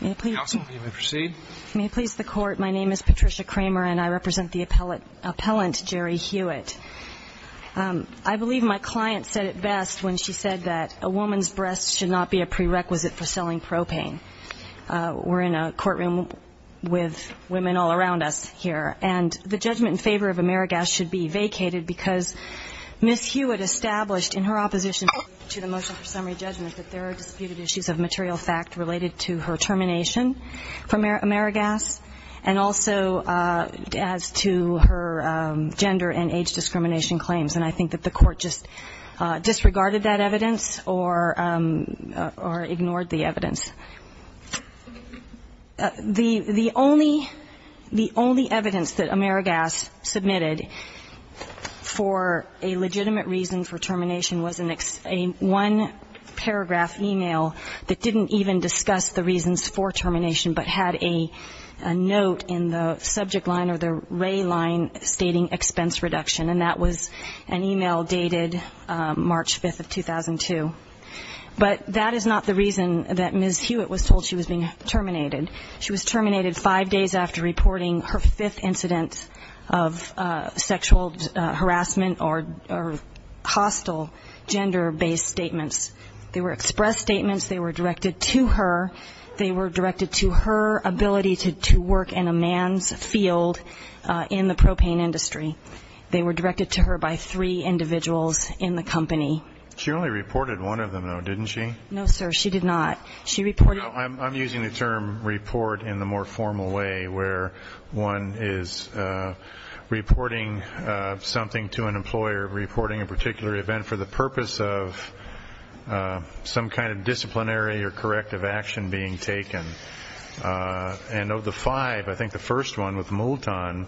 May it please the Court, my name is Patricia Kramer and I represent the appellant, Jerry Hewitt. I believe my client said it best when she said that a woman's breasts should not be a prerequisite for selling propane. We're in a courtroom with women all around us here and the judgment in favor of Amerigas should be vacated because Ms. Hewitt established in her opposition to the motion for summary judgment that there are disputed issues of material fact related to her termination from Amerigas and also as to her gender and age discrimination claims and I think that the Court just disregarded that evidence or ignored the evidence. The only evidence that Amerigas submitted for a legitimate reason for termination was a one paragraph e-mail that didn't even discuss the reasons for termination but had a note in the subject line or the ray line stating expense reduction and that was an e-mail dated March 5th of 2002. But that is not the reason that Ms. Hewitt was told she was being terminated. She was terminated five days after reporting her fifth incident of sexual harassment or hostile sexual or gender based statements. They were express statements, they were directed to her, they were directed to her ability to work in a man's field in the propane industry. They were directed to her by three individuals in the company. She only reported one of them though, didn't she? No sir, she did not. She reported... I'm using the term report in the more formal way where one is reporting something to an individual for the purpose of some kind of disciplinary or corrective action being taken. And of the five, I think the first one with Moulton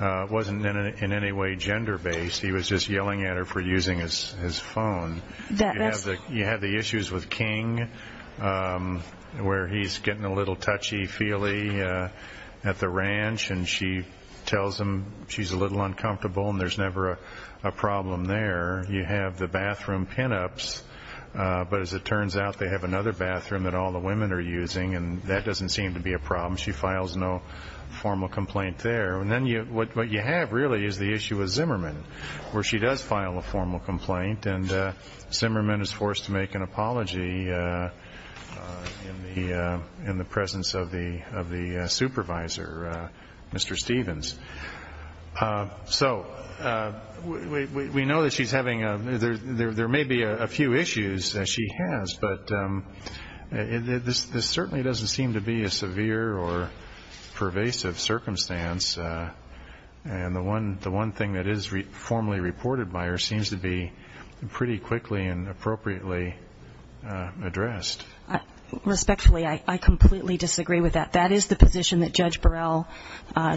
wasn't in any way gender based. He was just yelling at her for using his phone. You have the issues with King where he's getting a little touchy feely at the ranch and she tells him she's a little uncomfortable and there's never a problem there. You have the bathroom pinups, but as it turns out they have another bathroom that all the women are using and that doesn't seem to be a problem. She files no formal complaint there. And then what you have really is the issue with Zimmerman where she does file a formal complaint and Zimmerman is forced to make an apology in the presence of the judges. So we know that she's having a, there may be a few issues that she has, but this certainly doesn't seem to be a severe or pervasive circumstance. And the one thing that is formally reported by her seems to be pretty quickly and appropriately addressed. Respectfully, I completely disagree with that. That is the position that Judge Burrell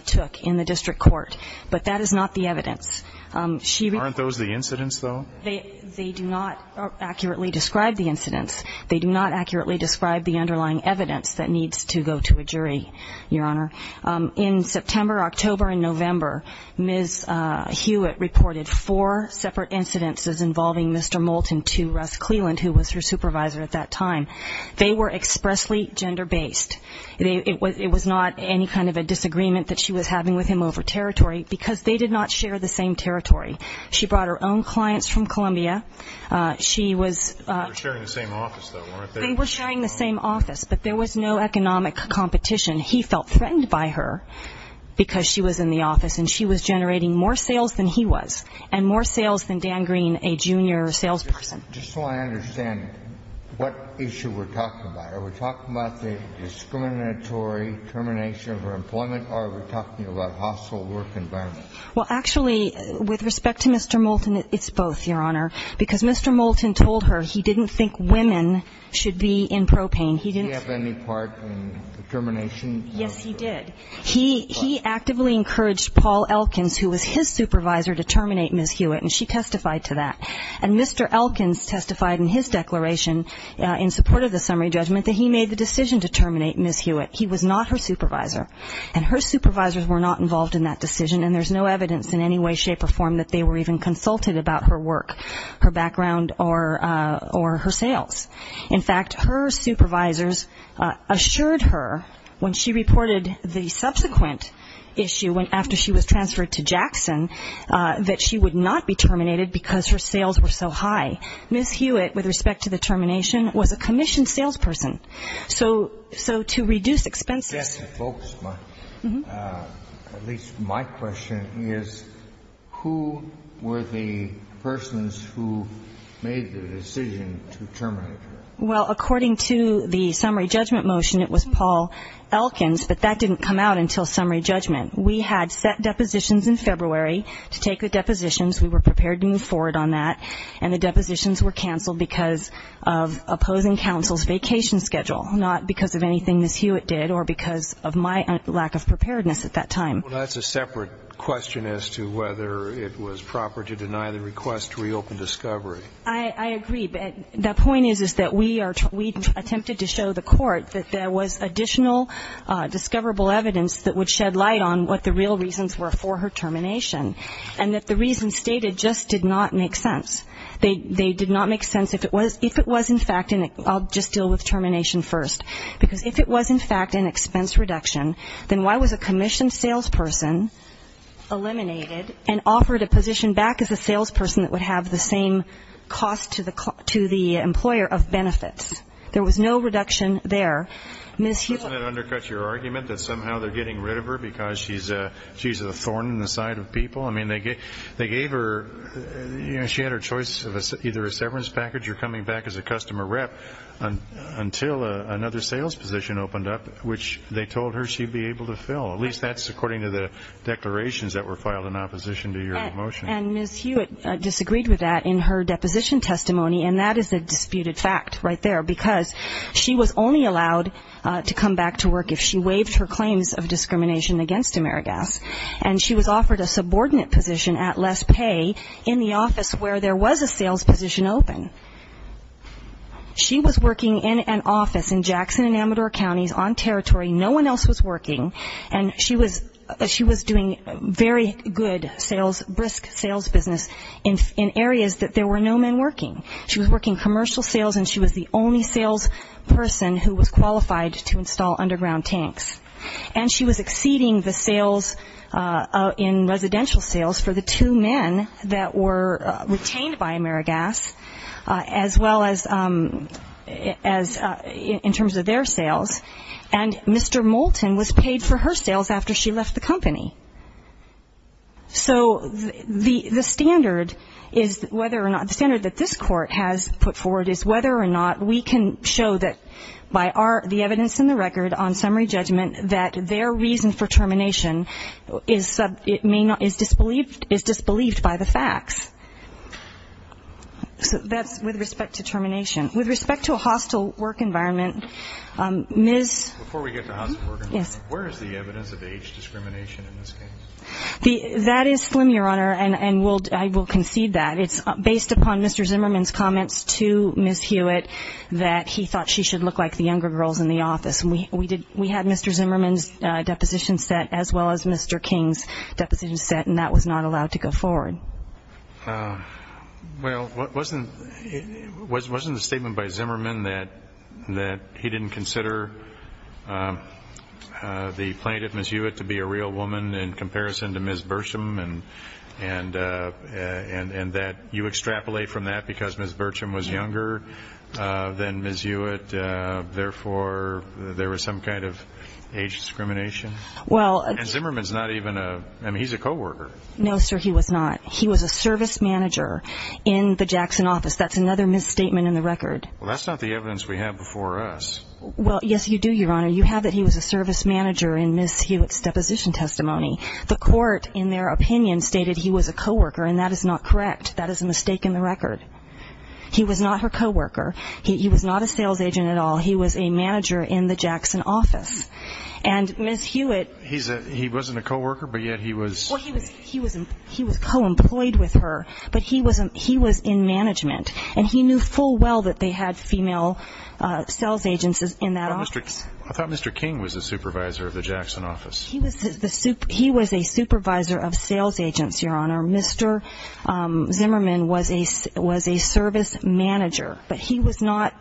took in the district court, but that is not the evidence. Aren't those the incidents though? They do not accurately describe the incidents. They do not accurately describe the underlying evidence that needs to go to a jury, Your Honor. In September, October, and November, Ms. Hewitt reported four separate incidents involving Mr. Moulton to Russ Cleland, who was her supervisor at that time. They were expressly gender-based. It was not any kind of a disagreement that she was having with him over territory because they did not share the same territory. She brought her own clients from Columbia. They were sharing the same office though, weren't they? They were sharing the same office, but there was no economic competition. He felt threatened by her because she was in the office and she was generating more sales than he was and more sales than Dan Green, a junior salesperson. Just so I understand, what issue we're talking about? Are we talking about the discriminatory termination of her employment or are we talking about a hostile work environment? Well, actually, with respect to Mr. Moulton, it's both, Your Honor, because Mr. Moulton told her he didn't think women should be in propane. He didn't. Did he have any part in the termination? Yes, he did. He actively encouraged Paul Elkins, who was his supervisor, to terminate Ms. Hewitt, and she testified to that. And Mr. Elkins testified in his declaration in support of the summary judgment that he made the decision to terminate Ms. Hewitt. He was not her supervisor, and her supervisors were not involved in that decision, and there's no evidence in any way, shape, or form that they were even consulted about her work, her background, or her sales. In fact, her supervisors assured her when she reported the subsequent issue after she was transferred to Jackson that she would not be terminated because her sales were so high. Ms. Hewitt, with respect to the termination, was a commissioned salesperson. So to reduce expenses. Yes, folks, at least my question is, who were the persons who made the decision to terminate Ms. Hewitt? Well, according to the summary judgment motion, it was Paul Elkins, but that didn't come out until summary judgment. We had set depositions in February to take the depositions. We were prepared to move forward on that, and the depositions were canceled because of opposing counsel's vacation schedule, not because of anything Ms. Hewitt did or because of my lack of preparedness at that time. Well, that's a separate question as to whether it was proper to deny the request to reopen Discovery. I agree, but the point is that we attempted to show the court that there was additional discoverable evidence that would shed light on what the real reasons were for her termination, and that the reasons stated just did not make sense. They did not make sense if it was in fact and I'll just deal with termination first, because if it was in fact an expense reduction, then why was a commissioned salesperson eliminated and offered a position back as a salesperson that would have the same cost to the employer of benefits? There was no reduction there. Isn't that undercut your argument that somehow they're getting rid of her because she's a thorn in the side of people? I mean, they gave her, you know, she had her choice of either a severance package or coming back as a customer rep until another sales position opened up, which they told her she'd be able to fill. At least that's according to the declarations that were filed in opposition to your motion. And Ms. Hewitt disagreed with that in her deposition testimony, and that is a disputed fact right there, because she was only allowed to come back to work if she waived her claims of discrimination against Amerigas, and she was offered a subordinate position at less pay in the office where there was a sales position open. She was working in an office in Jackson and Amador counties on territory. No one else was working, and she was doing very good, brisk sales business in areas that there were no men working. She was working commercial sales, and she was the only salesperson who was qualified to install underground tanks. And she was exceeding the sales in residential sales for the two men that were retained by Amerigas, as well as in terms of their sales, and Mr. Moulton was paid for her sales after she left the company. So the standard is whether or not, the standard that this court has put forward is whether or not we can show that by the evidence in the record on summary judgment that their reason for termination is disbelieved by the facts. So that's with respect to termination. With respect to a hostile work environment, Ms. Before we get to hostile work environment, where is the evidence of age discrimination in this case? That is slim, Your Honor, and I will concede that. It's based upon Mr. Zimmerman's comments to Ms. Hewitt that he thought she should look like the younger girls in the office. We had Mr. Zimmerman's deposition set as well as Mr. King's deposition set, and that was not allowed to go forward. Well, wasn't the statement by Zimmerman that he didn't consider the plaintiff, Ms. Hewitt, to be a real woman in comparison to Ms. Burcham, and that you extrapolate from that because Ms. Burcham was younger than Ms. Hewitt, therefore there was some kind of age discrimination? And Zimmerman's not even a, I mean, he's a coworker. No, sir, he was not. He was a service manager in the Jackson office. That's another misstatement in the record. Well, that's not the evidence we have before us. Well, yes, you do, Your Honor. You have that he was a service manager in Ms. Hewitt's deposition testimony. The court, in their opinion, stated he was a coworker, and that is not correct. That is a mistake in the record. He was not her coworker. He was not a sales agent at all. He was a manager in the Jackson office. And Ms. Hewitt... He wasn't a coworker, but yet he was... He was co-employed with her, but he was in management, and he knew full well that they had female sales agents in that office. I thought Mr. King was a supervisor of the Jackson office. He was a supervisor of sales agents, Your Honor. Mr. Zimmerman was a service manager, but he was not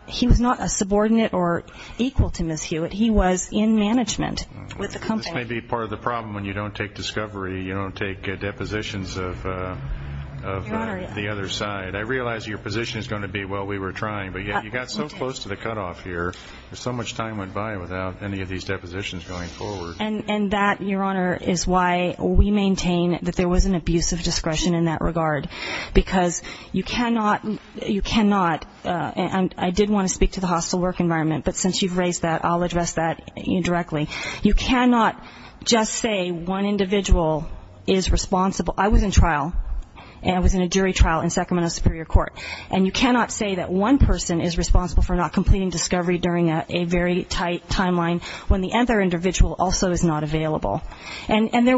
a subordinate or equal to Ms. Hewitt. He was in management with the company. This may be part of the problem when you don't take discovery. You don't take depositions of the other side. I realize your position is going to be, well, we were trying, but yet you got so close to the cutoff here. So much time went by without any of these depositions going forward. And that, Your Honor, is why we maintain that there was an abuse of discretion in that regard, because you cannot... I did want to speak to the hostile work environment, but since you've raised that, I'll address that directly. You cannot just say one individual is responsible. I was in trial. I was in a jury trial in Sacramento Superior Court. And you cannot say that one person is responsible for not completing discovery during a very tight timeline when the other individual also is not available. And there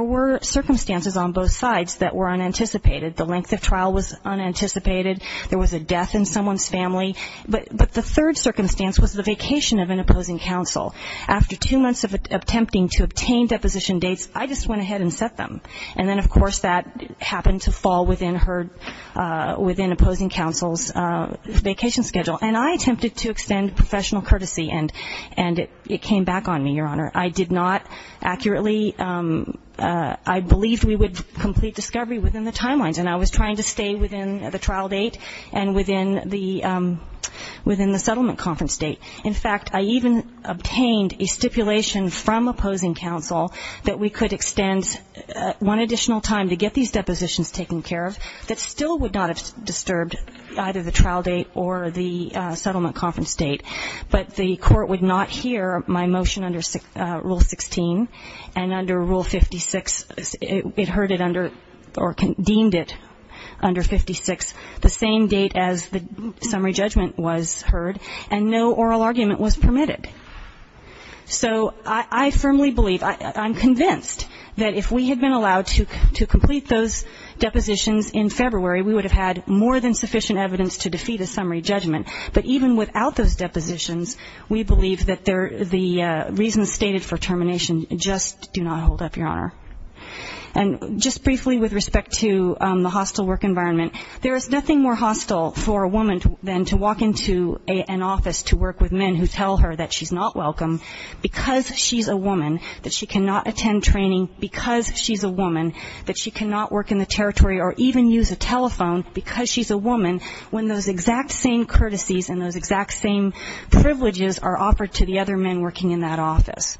were circumstances on both sides that were unanticipated. The length of trial was unanticipated. There was a death in someone's family. But the third circumstance was the vacation of an opposing counsel. After two months of attempting to obtain deposition dates, I just went ahead and set them. And then, of course, that happened to fall within her, within opposing counsel's vacation schedule. And I attempted to extend professional courtesy, and it came back on me, Your Honor. I did not accurately, I believed we would complete discovery within the timelines, and I was trying to stay within the trial date and within the settlement conference date. In fact, I even obtained a stipulation from opposing counsel that we could extend one additional time to get these depositions taken care of that still would not have disturbed either the trial date or the settlement conference date. But the court would not hear my motion under Rule 16. And under Rule 56, it heard it under or deemed it under 56, the same date as the summary judgment was heard, and no oral argument was permitted. So I firmly believe, I'm convinced that if we had been allowed to complete those depositions in February, we would have had more than sufficient evidence to defeat a summary judgment. But even without those depositions, we believe that the reasons stated for termination just do not hold up, Your Honor. And just briefly with respect to the hostile work environment, there is nothing more hostile for a woman than to walk into an office to work with men who tell her that she's not welcome, because she's a woman, that she cannot attend training because she's a woman, that she cannot work in the territory or even use a telephone because she's a woman, when those exact same courtesies and those exact same privileges are offered to the other men working in that office.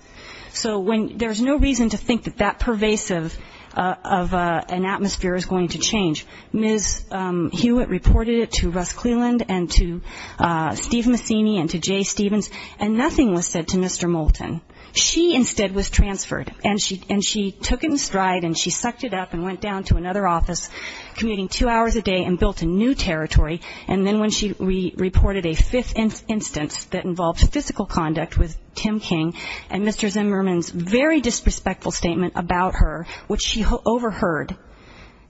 So there's no reason to think that that pervasive of an atmosphere is going to change. Ms. Hewitt reported it to Russ Cleland and to Steve Massini and to Jay Stevens, and nothing was said to Mr. Moulton. She instead was transferred, and she took it in stride and she sucked it up and went down to another office, commuting two hours a day, and built a new territory. And then when she reported a fifth instance that involved physical conduct with Tim King and Mr. Zimmerman's very disrespectful statement about her, which she overheard,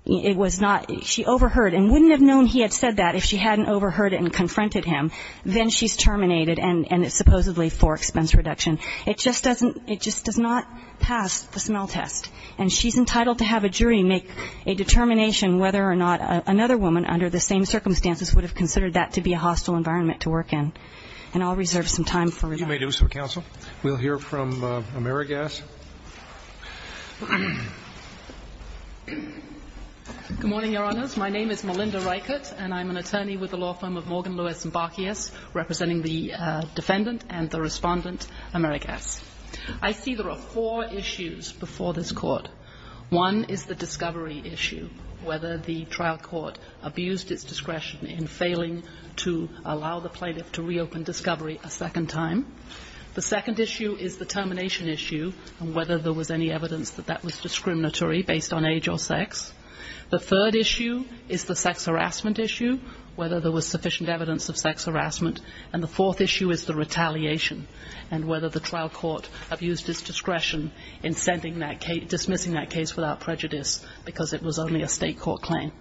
it was not, she overheard and wouldn't have known he had said that if she hadn't overheard it and confronted him, then she's terminated and it's supposedly for expense reduction. It just doesn't, it just does not pass the smell test. And she's entitled to have a jury make a determination whether or not another woman under the same circumstances would have considered that to be a hostile environment to work in. And I'll reserve some time for remarks. You may do so, counsel. We'll hear from Amerigas. Good morning, Your Honors. My name is Melinda Reichert, and I'm an attorney with the law firm of Morgan, Lewis & Barkeas, representing the defendant and the respondent, Amerigas. I see there are four issues before this Court. One is the discovery issue, whether the trial court abused its discretion in failing to allow the plaintiff to reopen discovery a second time. The second issue is the termination issue and whether there was any evidence that that was discriminatory based on age or sex. The third issue is the sex harassment issue, whether there was sufficient evidence of sex harassment. And the fourth issue is the retaliation and whether the trial court abused its discretion in sending that case, dismissing that case without prejudice because it was only a state court claim.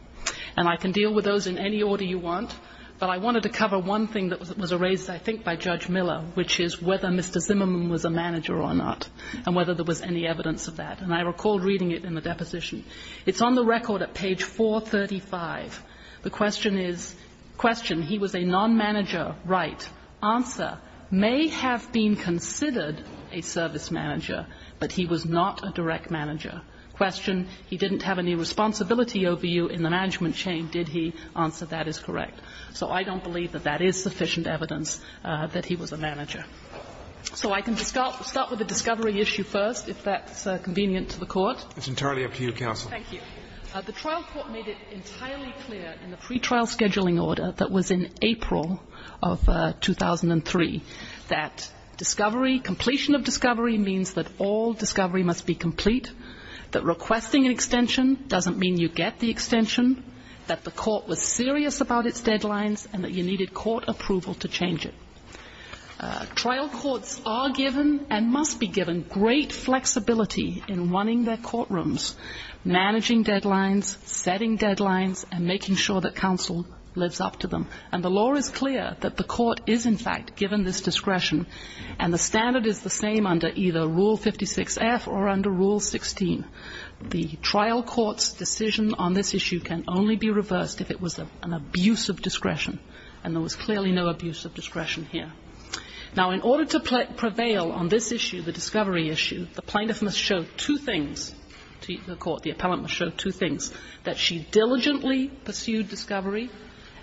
And I can deal with those in any order you want, but I wanted to cover one thing that was raised, I think, by Judge Miller, which is whether Mr. Zimmerman was a manager or not and whether there was any evidence of that. And I recall reading it in the deposition. It's on the record at page 435. The question is, question, he was a non-manager, right. Answer, may have been considered a service manager, but he was not a direct manager. Question, he didn't have any responsibility over you in the management chain, did he? Answer, that is correct. So I don't believe that that is sufficient evidence that he was a manager. So I can start with the discovery issue first, if that's convenient to the Court. It's entirely up to you, Counsel. The trial court made it entirely clear in the pretrial scheduling order that was in April of 2003 that discovery, completion of discovery means that all discovery must be complete, that requesting an extension doesn't mean you get the extension, that the court was serious about its deadlines and that you needed court approval to change it. Trial courts are given and must be given great flexibility in running their courtrooms, managing deadlines, setting deadlines, and making sure that counsel lives up to them. And the law is clear that the court is, in fact, given this discretion, and the standard is the same under either Rule 56F or under Rule 16. The trial court's decision on this issue can only be reversed if it was an abuse of discretion, and there was clearly no abuse of discretion here. Now, in order to prevail on this issue, the discovery issue, the plaintiff must show two things to the court. The appellant must show two things, that she diligently pursued discovery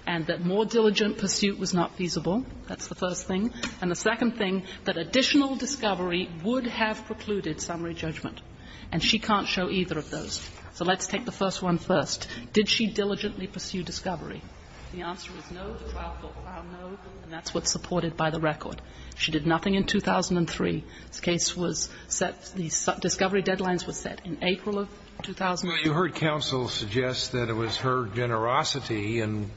and that more diligent pursuit was not feasible. That's the first thing. And the second thing, that additional discovery would have precluded summary judgment. And she can't show either of those. So let's take the first one first. Did she diligently pursue discovery? The answer is no. The trial court found no, and that's what's supported by the record. She did nothing in 2003. The case was set, the discovery deadlines were set in April of 2003. But you heard counsel suggest that it was her generosity in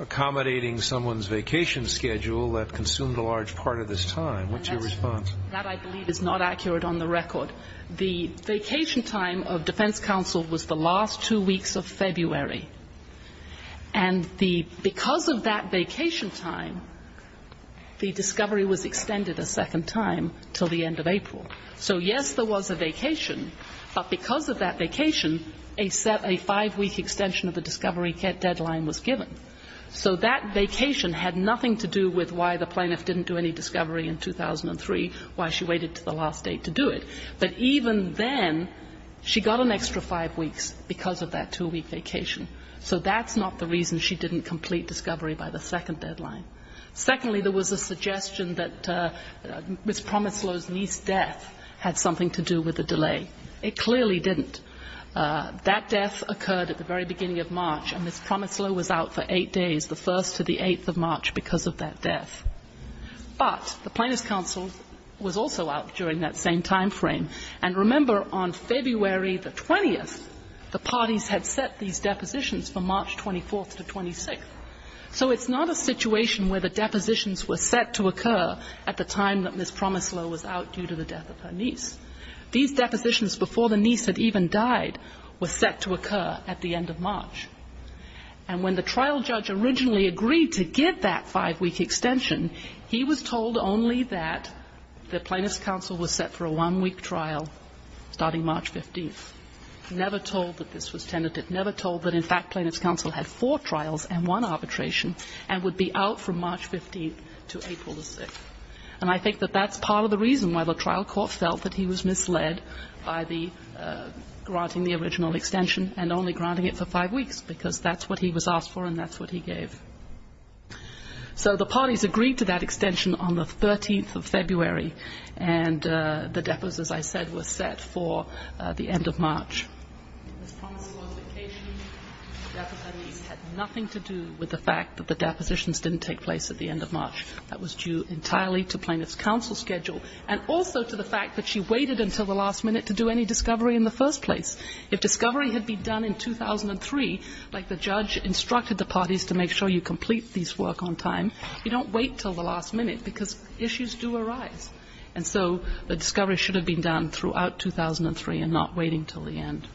accommodating someone's vacation schedule that consumed a large part of this time. What's your response? That, I believe, is not accurate on the record. The vacation time of defense counsel was the last two weeks of February. And because of that vacation time, the discovery was extended a second time until the end of April. So, yes, there was a vacation, but because of that vacation, a five-week extension of the discovery deadline was given. So that vacation had nothing to do with why the plaintiff didn't do any discovery in 2003, why she waited to the last date to do it. But even then, she got an extra five weeks because of that two-week vacation. So that's not the reason she didn't complete discovery by the second deadline. Secondly, there was a suggestion that Ms. Promisloh's niece's death had something to do with the delay. It clearly didn't. That death occurred at the very beginning of March, and Ms. Promisloh was out for eight days, the 1st to the 8th of March, because of that death. But the plaintiff's counsel was also out during that same time frame. And remember, on February the 20th, the parties had set these depositions for March 24th to 26th. So it's not a situation where the depositions were set to occur at the time that Ms. Promisloh was out due to the death of her niece. These depositions before the niece had even died were set to occur at the end of March. And when the trial judge originally agreed to give that five-week extension, he was told only that the plaintiff's counsel was set for a one-week trial starting March 15th. Never told that this was tentative. Never told that, in fact, plaintiff's counsel had four trials and one arbitration and would be out from March 15th to April the 6th. And I think that that's part of the reason why the trial court felt that he was misled by the granting the original extension and only granting it for five weeks, because that's what he was asked for and that's what he gave. So the parties agreed to that extension on the 13th of February, and the deposits, as I said, were set for the end of March. Ms. Promisloh's vacation, death of her niece, had nothing to do with the fact that the depositions didn't take place at the end of March. That was due entirely to plaintiff's counsel's schedule and also to the fact that she waited until the last minute to do any discovery in the first place. If discovery had been done in 2003, like the judge instructed the parties to make sure you complete this work on time, you don't wait until the last minute because issues do arise. And so the discovery should have been done throughout 2003 and not waiting until the end.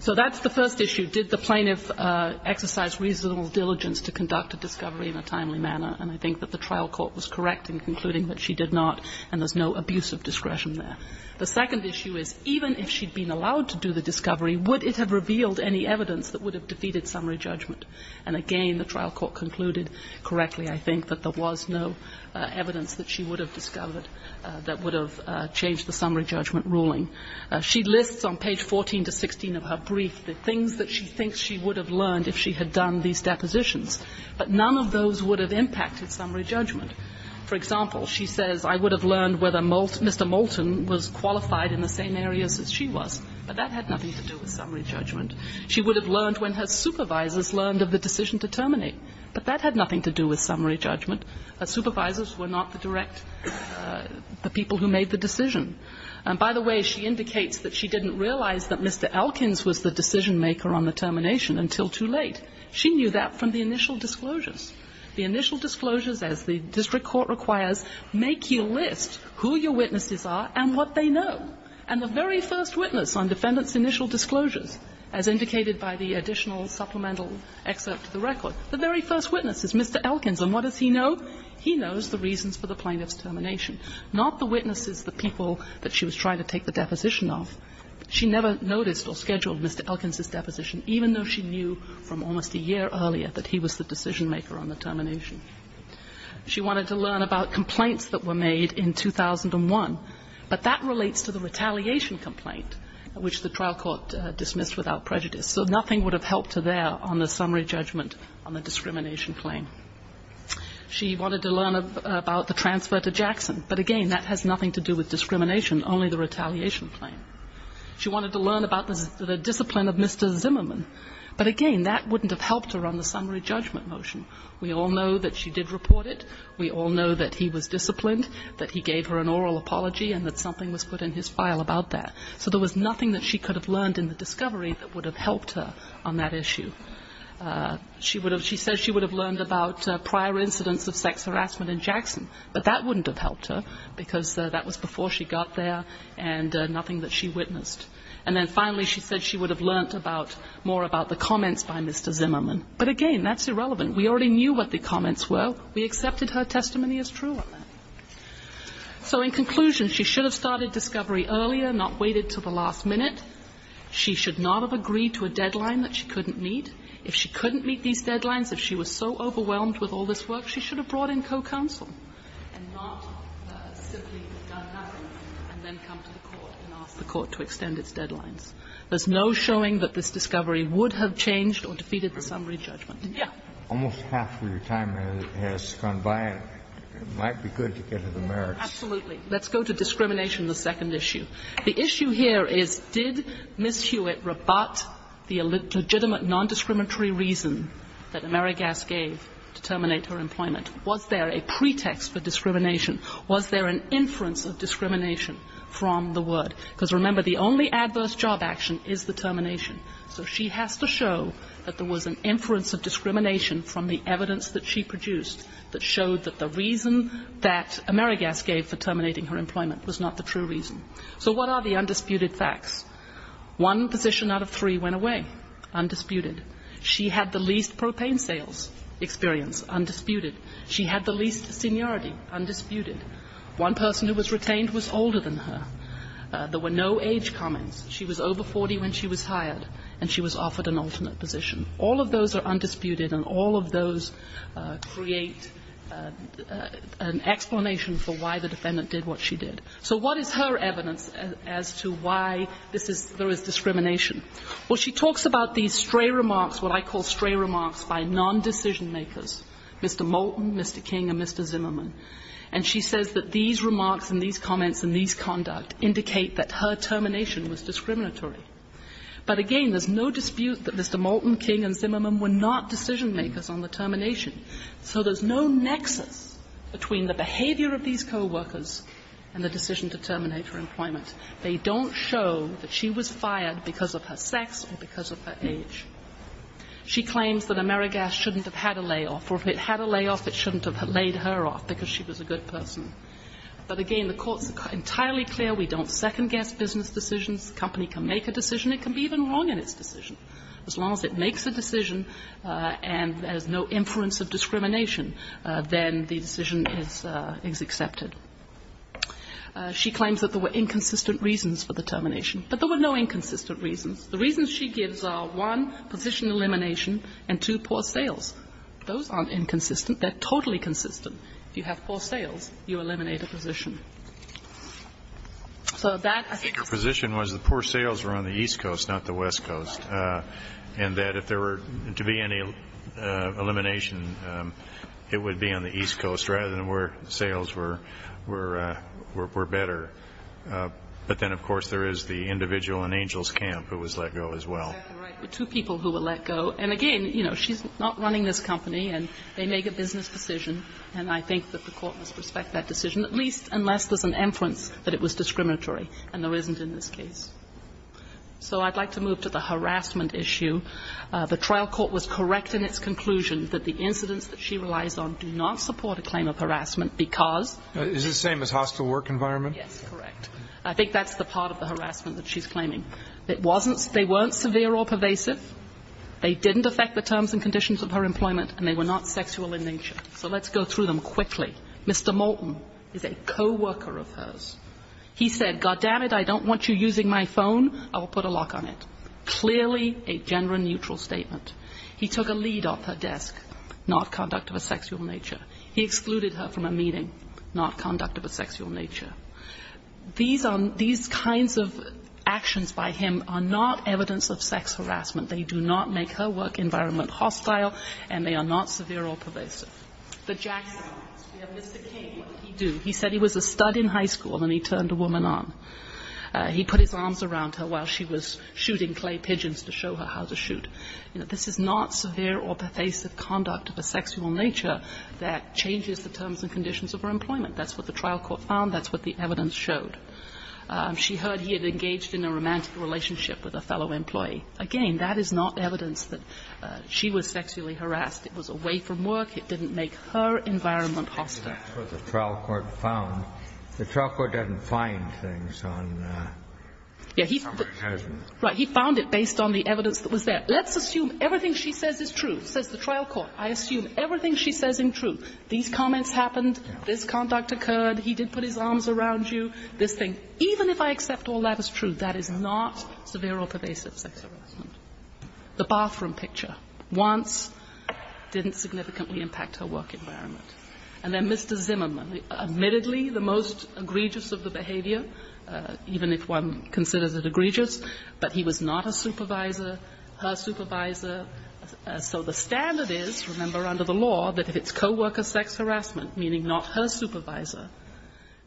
So that's the first issue. Did the plaintiff exercise reasonable diligence to conduct a discovery in a timely manner? And I think that the trial court was correct in concluding that she did not and there's no abuse of discretion there. The second issue is even if she'd been allowed to do the discovery, would it have revealed any evidence that would have defeated summary judgment? And again, the trial court concluded correctly, I think, that there was no evidence that she would have discovered that would have changed the summary judgment ruling. She lists on page 14 to 16 of her brief the things that she thinks she would have learned if she had done these depositions. But none of those would have impacted summary judgment. For example, she says, I would have learned whether Mr. Moulton was qualified in the same areas as she was. But that had nothing to do with summary judgment. She would have learned when her supervisors learned of the decision to terminate. But that had nothing to do with summary judgment. Her supervisors were not the direct, the people who made the decision. And by the way, she indicates that she didn't realize that Mr. Elkins was the decision maker on the termination until too late. She knew that from the initial disclosures. The initial disclosures, as the district court requires, make you list who your witnesses are and what they know. And the very first witness on defendant's initial disclosures, as indicated by the additional supplemental excerpt to the record, the very first witness is Mr. Elkins. And what does he know? He knows the reasons for the plaintiff's termination. Not the witnesses, the people that she was trying to take the deposition off. She never noticed or scheduled Mr. Elkins' deposition, even though she knew from almost a year earlier that he was the decision maker on the termination. She wanted to learn about complaints that were made in 2001. But that relates to the retaliation complaint, which the trial court dismissed without prejudice. So nothing would have helped her there on the summary judgment on the discrimination claim. She wanted to learn about the transfer to Jackson. But, again, that has nothing to do with discrimination, only the retaliation claim. She wanted to learn about the discipline of Mr. Zimmerman. But, again, that wouldn't have helped her on the summary judgment motion. We all know that she did report it. We all know that he was disciplined, that he gave her an oral apology. And that something was put in his file about that. So there was nothing that she could have learned in the discovery that would have helped her on that issue. She said she would have learned about prior incidents of sex harassment in Jackson. But that wouldn't have helped her because that was before she got there and nothing that she witnessed. And then, finally, she said she would have learned more about the comments by Mr. Zimmerman. But, again, that's irrelevant. We already knew what the comments were. We accepted her testimony as true on that. So, in conclusion, she should have started discovery earlier, not waited until the last minute. She should not have agreed to a deadline that she couldn't meet. If she couldn't meet these deadlines, if she was so overwhelmed with all this work, she should have brought in co-counsel and not simply done nothing and then come to the court and ask the court to extend its deadlines. There's no showing that this discovery would have changed or defeated the summary judgment. Yeah. Almost half of your time has gone by. It might be good to get to the merits. Absolutely. Let's go to discrimination, the second issue. The issue here is did Ms. Hewitt rebut the legitimate non-discriminatory reason that Mary Gass gave to terminate her employment? Was there a pretext for discrimination? Was there an inference of discrimination from the word? Because, remember, the only adverse job action is the termination. So she has to show that there was an inference of discrimination from the evidence that she produced that showed that the reason that Mary Gass gave for terminating her employment was not the true reason. So what are the undisputed facts? One physician out of three went away, undisputed. She had the least propane sales experience, undisputed. She had the least seniority, undisputed. One person who was retained was older than her. There were no age comments. She was over 40 when she was hired, and she was offered an alternate position. All of those are undisputed, and all of those create an explanation for why the defendant did what she did. So what is her evidence as to why this is, there is discrimination? Well, she talks about these stray remarks, what I call stray remarks by non-decision makers, Mr. Moulton, Mr. King, and Mr. Zimmerman, and she says that these remarks and these comments and these conduct indicate that her termination was discriminatory. But again, there's no dispute that Mr. Moulton, King, and Zimmerman were not decision makers on the termination, so there's no nexus between the behavior of these coworkers and the decision to terminate her employment. They don't show that she was fired because of her sex or because of her age. She claims that Mary Gass shouldn't have had a layoff, or if it had a layoff, it shouldn't have laid her off because she was a good person. But again, the Court's entirely clear. We don't second-guess business decisions. The company can make a decision. It can be even wrong in its decision. As long as it makes a decision and there's no inference of discrimination, then the decision is accepted. She claims that there were inconsistent reasons for the termination, but there were no inconsistent reasons. The reasons she gives are, one, position elimination, and two, poor sales. Those aren't inconsistent. They're totally consistent. If you have poor sales, you eliminate a position. So that, I think her position was the poor sales were on the East Coast, not the West Coast, and that if there were to be any elimination, it would be on the East Coast rather than where sales were better. But then, of course, there is the individual in Angel's Camp who was let go as well. That's exactly right. There were two people who were let go. And again, you know, she's not running this company, and they make a business decision, and I think that the court must respect that decision, at least unless there's an inference that it was discriminatory, and there isn't in this case. So I'd like to move to the harassment issue. The trial court was correct in its conclusion that the incidents that she relies on do not support a claim of harassment because. Is it the same as hostile work environment? Yes, correct. I think that's the part of the harassment that she's claiming. It wasn't they weren't severe or pervasive. They didn't affect the terms and conditions of her employment, and they were not sexual in nature. So let's go through them quickly. Mr. Moulton is a co-worker of hers. He said, God damn it, I don't want you using my phone. I will put a lock on it. Clearly a gender neutral statement. He took a lead off her desk, not conduct of a sexual nature. He excluded her from a meeting, not conduct of a sexual nature. These kinds of actions by him are not evidence of sex harassment. They do not make her work environment hostile, and they are not severe or pervasive. The Jacksonites. We have Mr. King. What did he do? He said he was a stud in high school and he turned a woman on. He put his arms around her while she was shooting clay pigeons to show her how to shoot. This is not severe or pervasive conduct of a sexual nature that changes the terms and conditions of her employment. That's what the trial court found. That's what the evidence showed. She heard he had engaged in a romantic relationship with a fellow employee. Again, that is not evidence that she was sexually harassed. It was away from work. It didn't make her environment hostile. Kennedy, that's what the trial court found. The trial court doesn't find things on sexual harassment. Right. He found it based on the evidence that was there. Let's assume everything she says is true, says the trial court. I assume everything she says is true. These comments happened. This conduct occurred. He did put his arms around you. This thing, even if I accept all that is true, that is not severe or pervasive sex harassment. The bathroom picture once didn't significantly impact her work environment. And then Mr. Zimmerman, admittedly the most egregious of the behavior, even if one considers it egregious, but he was not a supervisor, her supervisor. So the standard is, remember, under the law, that if it's co-worker sex harassment, meaning not her supervisor,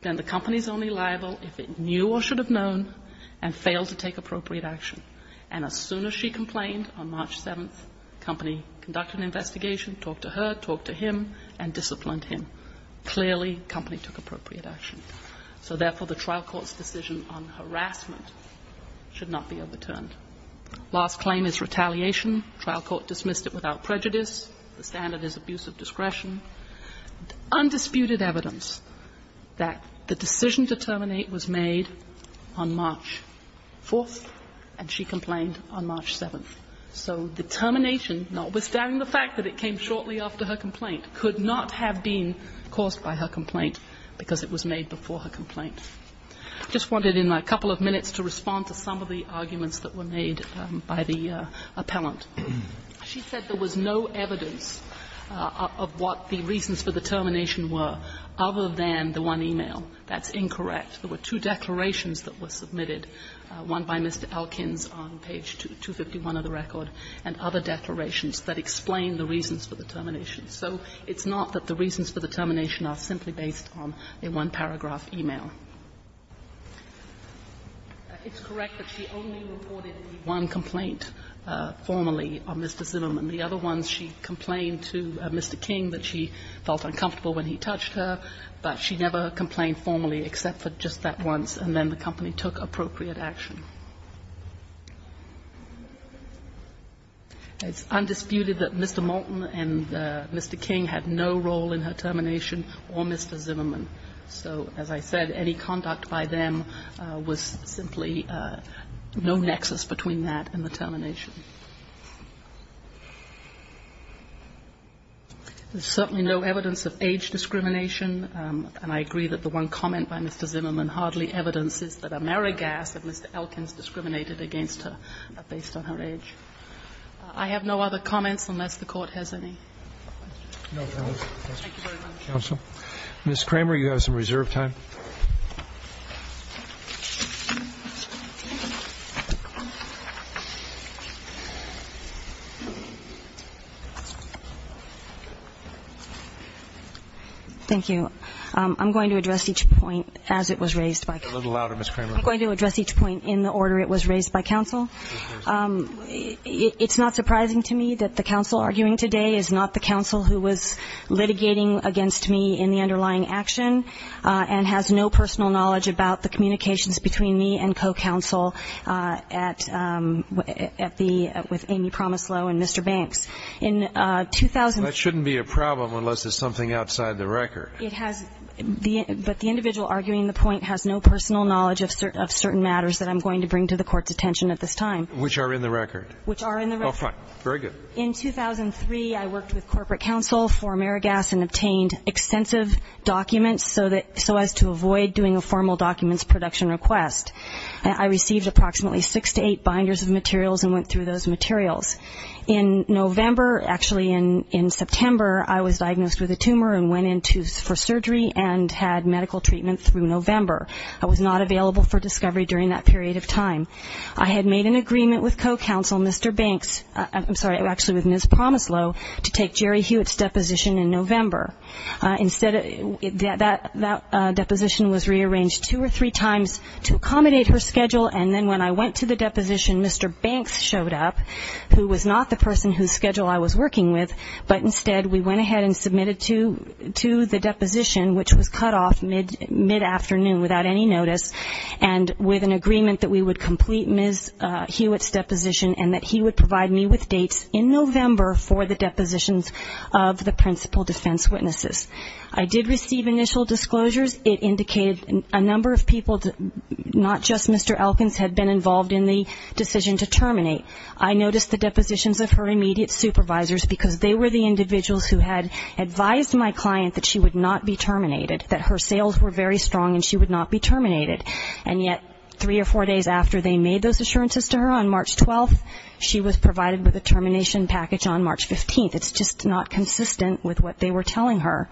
then the company is only liable if it knew or should have known and failed to take appropriate action. And as soon as she complained, on March 7th, the company conducted an investigation, talked to her, talked to him, and disciplined him. Clearly, the company took appropriate action. So therefore, the trial court's decision on harassment should not be overturned. Last claim is retaliation. The trial court dismissed it without prejudice. The standard is abuse of discretion. Undisputed evidence that the decision to terminate was made on March 4th, and she complained on March 7th. So the termination, notwithstanding the fact that it came shortly after her complaint, could not have been caused by her complaint because it was made before her complaint. I just wanted in a couple of minutes to respond to some of the arguments that were made by the appellant. She said there was no evidence of what the reasons for the termination were other than the one e-mail. That's incorrect. There were two declarations that were submitted, one by Mr. Elkins on page 251 of the record, and other declarations that explained the reasons for the termination. So it's not that the reasons for the termination are simply based on a one-paragraph e-mail. It's correct that she only reported the one complaint formally on Mr. Zimmerman. The other ones, she complained to Mr. King that she felt uncomfortable when he touched her, but she never complained formally except for just that once, and then the company took appropriate action. It's undisputed that Mr. Moulton and Mr. King had no role in her termination or Mr. Zimmerman. So as I said, any conduct by them was simply no nexus between that and the termination. There's certainly no evidence of age discrimination, and I agree that the one comment by Mr. Zimmerman hardly evidences that Amerigas that Mr. Elkins discriminated against her based on her age. I have no other comments unless the Court has any. Thank you very much. Counsel. Ms. Kramer, you have some reserve time. Thank you. I'm going to address each point as it was raised by counsel. A little louder, Ms. Kramer. I'm going to address each point in the order it was raised by counsel. It's not surprising to me that the counsel arguing today is not the counsel who was litigating against me in the underlying action and has no personal knowledge about the communications between me and co-counsel at the – with Amy Promislo and Mr. Banks. In 2000 – That shouldn't be a problem unless there's something outside the record. It has – but the individual arguing the point has no personal knowledge of certain matters that I'm going to bring to the Court's attention at this time. Which are in the record. Which are in the record. Okay. Very good. In 2003, I worked with corporate counsel for Amerigas and obtained extensive documents so that – so as to avoid doing a formal documents production request. I received approximately six to eight binders of materials and went through those materials. In November – actually, in September, I was diagnosed with a tumor and went in for surgery and had medical treatment through November. I was not available for discovery during that period of time. I had made an agreement with co-counsel Mr. Banks – I'm sorry, actually with Ms. Promislo to take Jerry Hewitt's deposition in November. Instead, that deposition was rearranged two or three times to accommodate her schedule and then when I went to the deposition, Mr. Banks showed up, who was not the person whose schedule I was working with, but instead we went ahead and And with an agreement that we would complete Ms. Hewitt's deposition and that he would provide me with dates in November for the depositions of the principal defense witnesses. I did receive initial disclosures. It indicated a number of people, not just Mr. Elkins, had been involved in the decision to terminate. I noticed the depositions of her immediate supervisors because they were the individuals who had advised my client that she would not be terminated, that her And yet, three or four days after they made those assurances to her on March 12th, she was provided with a termination package on March 15th. It's just not consistent with what they were telling her.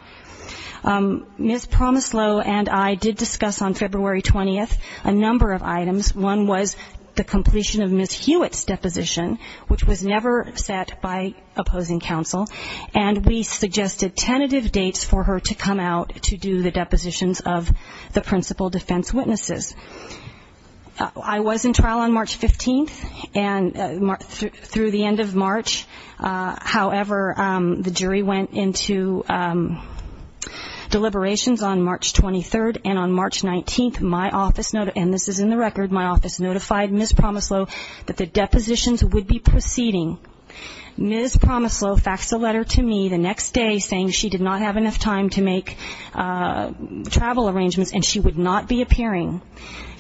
Ms. Promislo and I did discuss on February 20th a number of items. One was the completion of Ms. Hewitt's deposition, which was never set by opposing counsel, and we suggested tentative dates for her to come out to do the principal defense witnesses. I was in trial on March 15th, and through the end of March, however, the jury went into deliberations on March 23rd, and on March 19th, my office, and this is in the record, my office notified Ms. Promislo that the depositions would be proceeding. Ms. Promislo faxed a letter to me the next day saying she did not have enough time to make travel arrangements and she would not be appearing.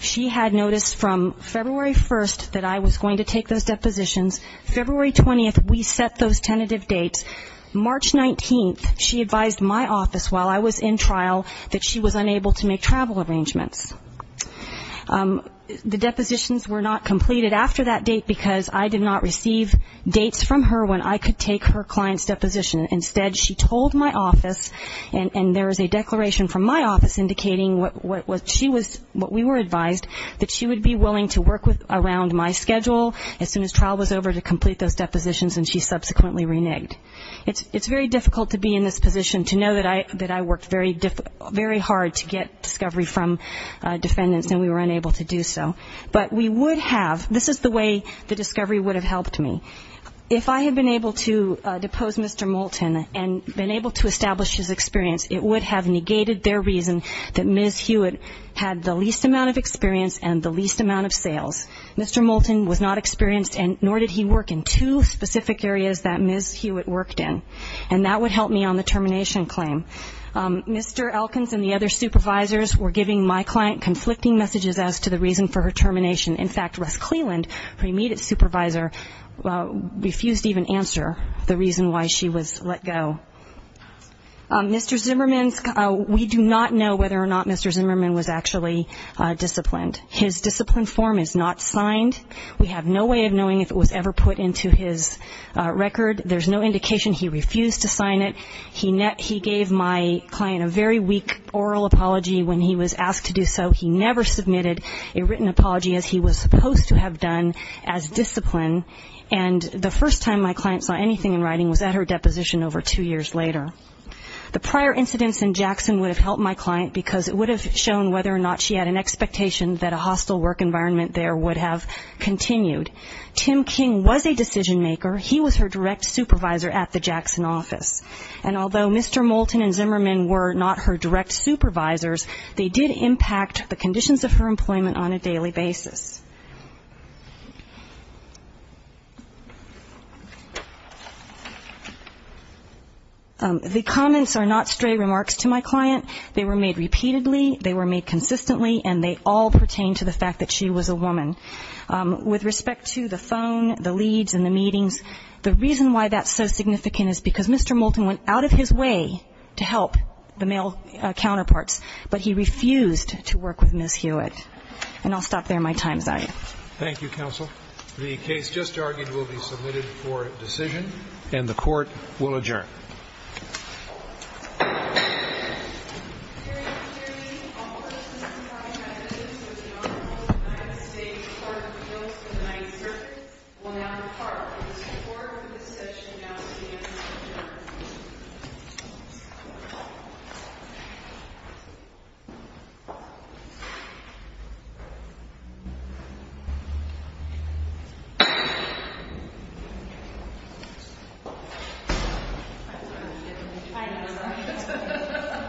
She had noticed from February 1st that I was going to take those depositions. February 20th, we set those tentative dates. March 19th, she advised my office while I was in trial that she was unable to make travel arrangements. The depositions were not completed after that date because I did not receive dates from her when I could take her client's deposition. Instead, she told my office, and there is a declaration from my office indicating what she was, what we were advised, that she would be willing to work around my schedule as soon as trial was over to complete those depositions, and she subsequently reneged. It's very difficult to be in this position to know that I worked very hard to get discovery from defendants and we were unable to do so. But we would have, this is the way the discovery would have helped me. If I had been able to depose Mr. Moulton and been able to establish his experience, it would have negated their reason that Ms. Hewitt had the least amount of experience and the least amount of sales. Mr. Moulton was not experienced, nor did he work in two specific areas that Ms. Hewitt worked in, and that would help me on the termination claim. Mr. Elkins and the other supervisors were giving my client conflicting messages as to the reason for her termination. In fact, Russ Cleland, her immediate supervisor, refused to even answer the reason why she was let go. Mr. Zimmerman's, we do not know whether or not Mr. Zimmerman was actually disciplined. His discipline form is not signed. We have no way of knowing if it was ever put into his record. There's no indication he refused to sign it. He gave my client a very weak oral apology when he was asked to do so. He never submitted a written apology as he was supposed to have done as discipline. And the first time my client saw anything in writing was at her deposition over two years later. The prior incidents in Jackson would have helped my client because it would have shown whether or not she had an expectation that a hostile work environment there would have continued. Tim King was a decision maker. He was her direct supervisor at the Jackson office. And although Mr. Moulton and Zimmerman were not her direct supervisors, they did impact the conditions of her employment on a daily basis. The comments are not stray remarks to my client. They were made repeatedly. They were made consistently. And they all pertain to the fact that she was a woman. With respect to the phone, the leads and the meetings, the reason why that's so significant is because Mr. Moulton went out of his way to help the male counterparts. But he refused to work with Ms. Hewitt. And I'll stop there. My time is up. Thank you, counsel. The case just argued will be submitted for decision. And the court will adjourn. Thank you.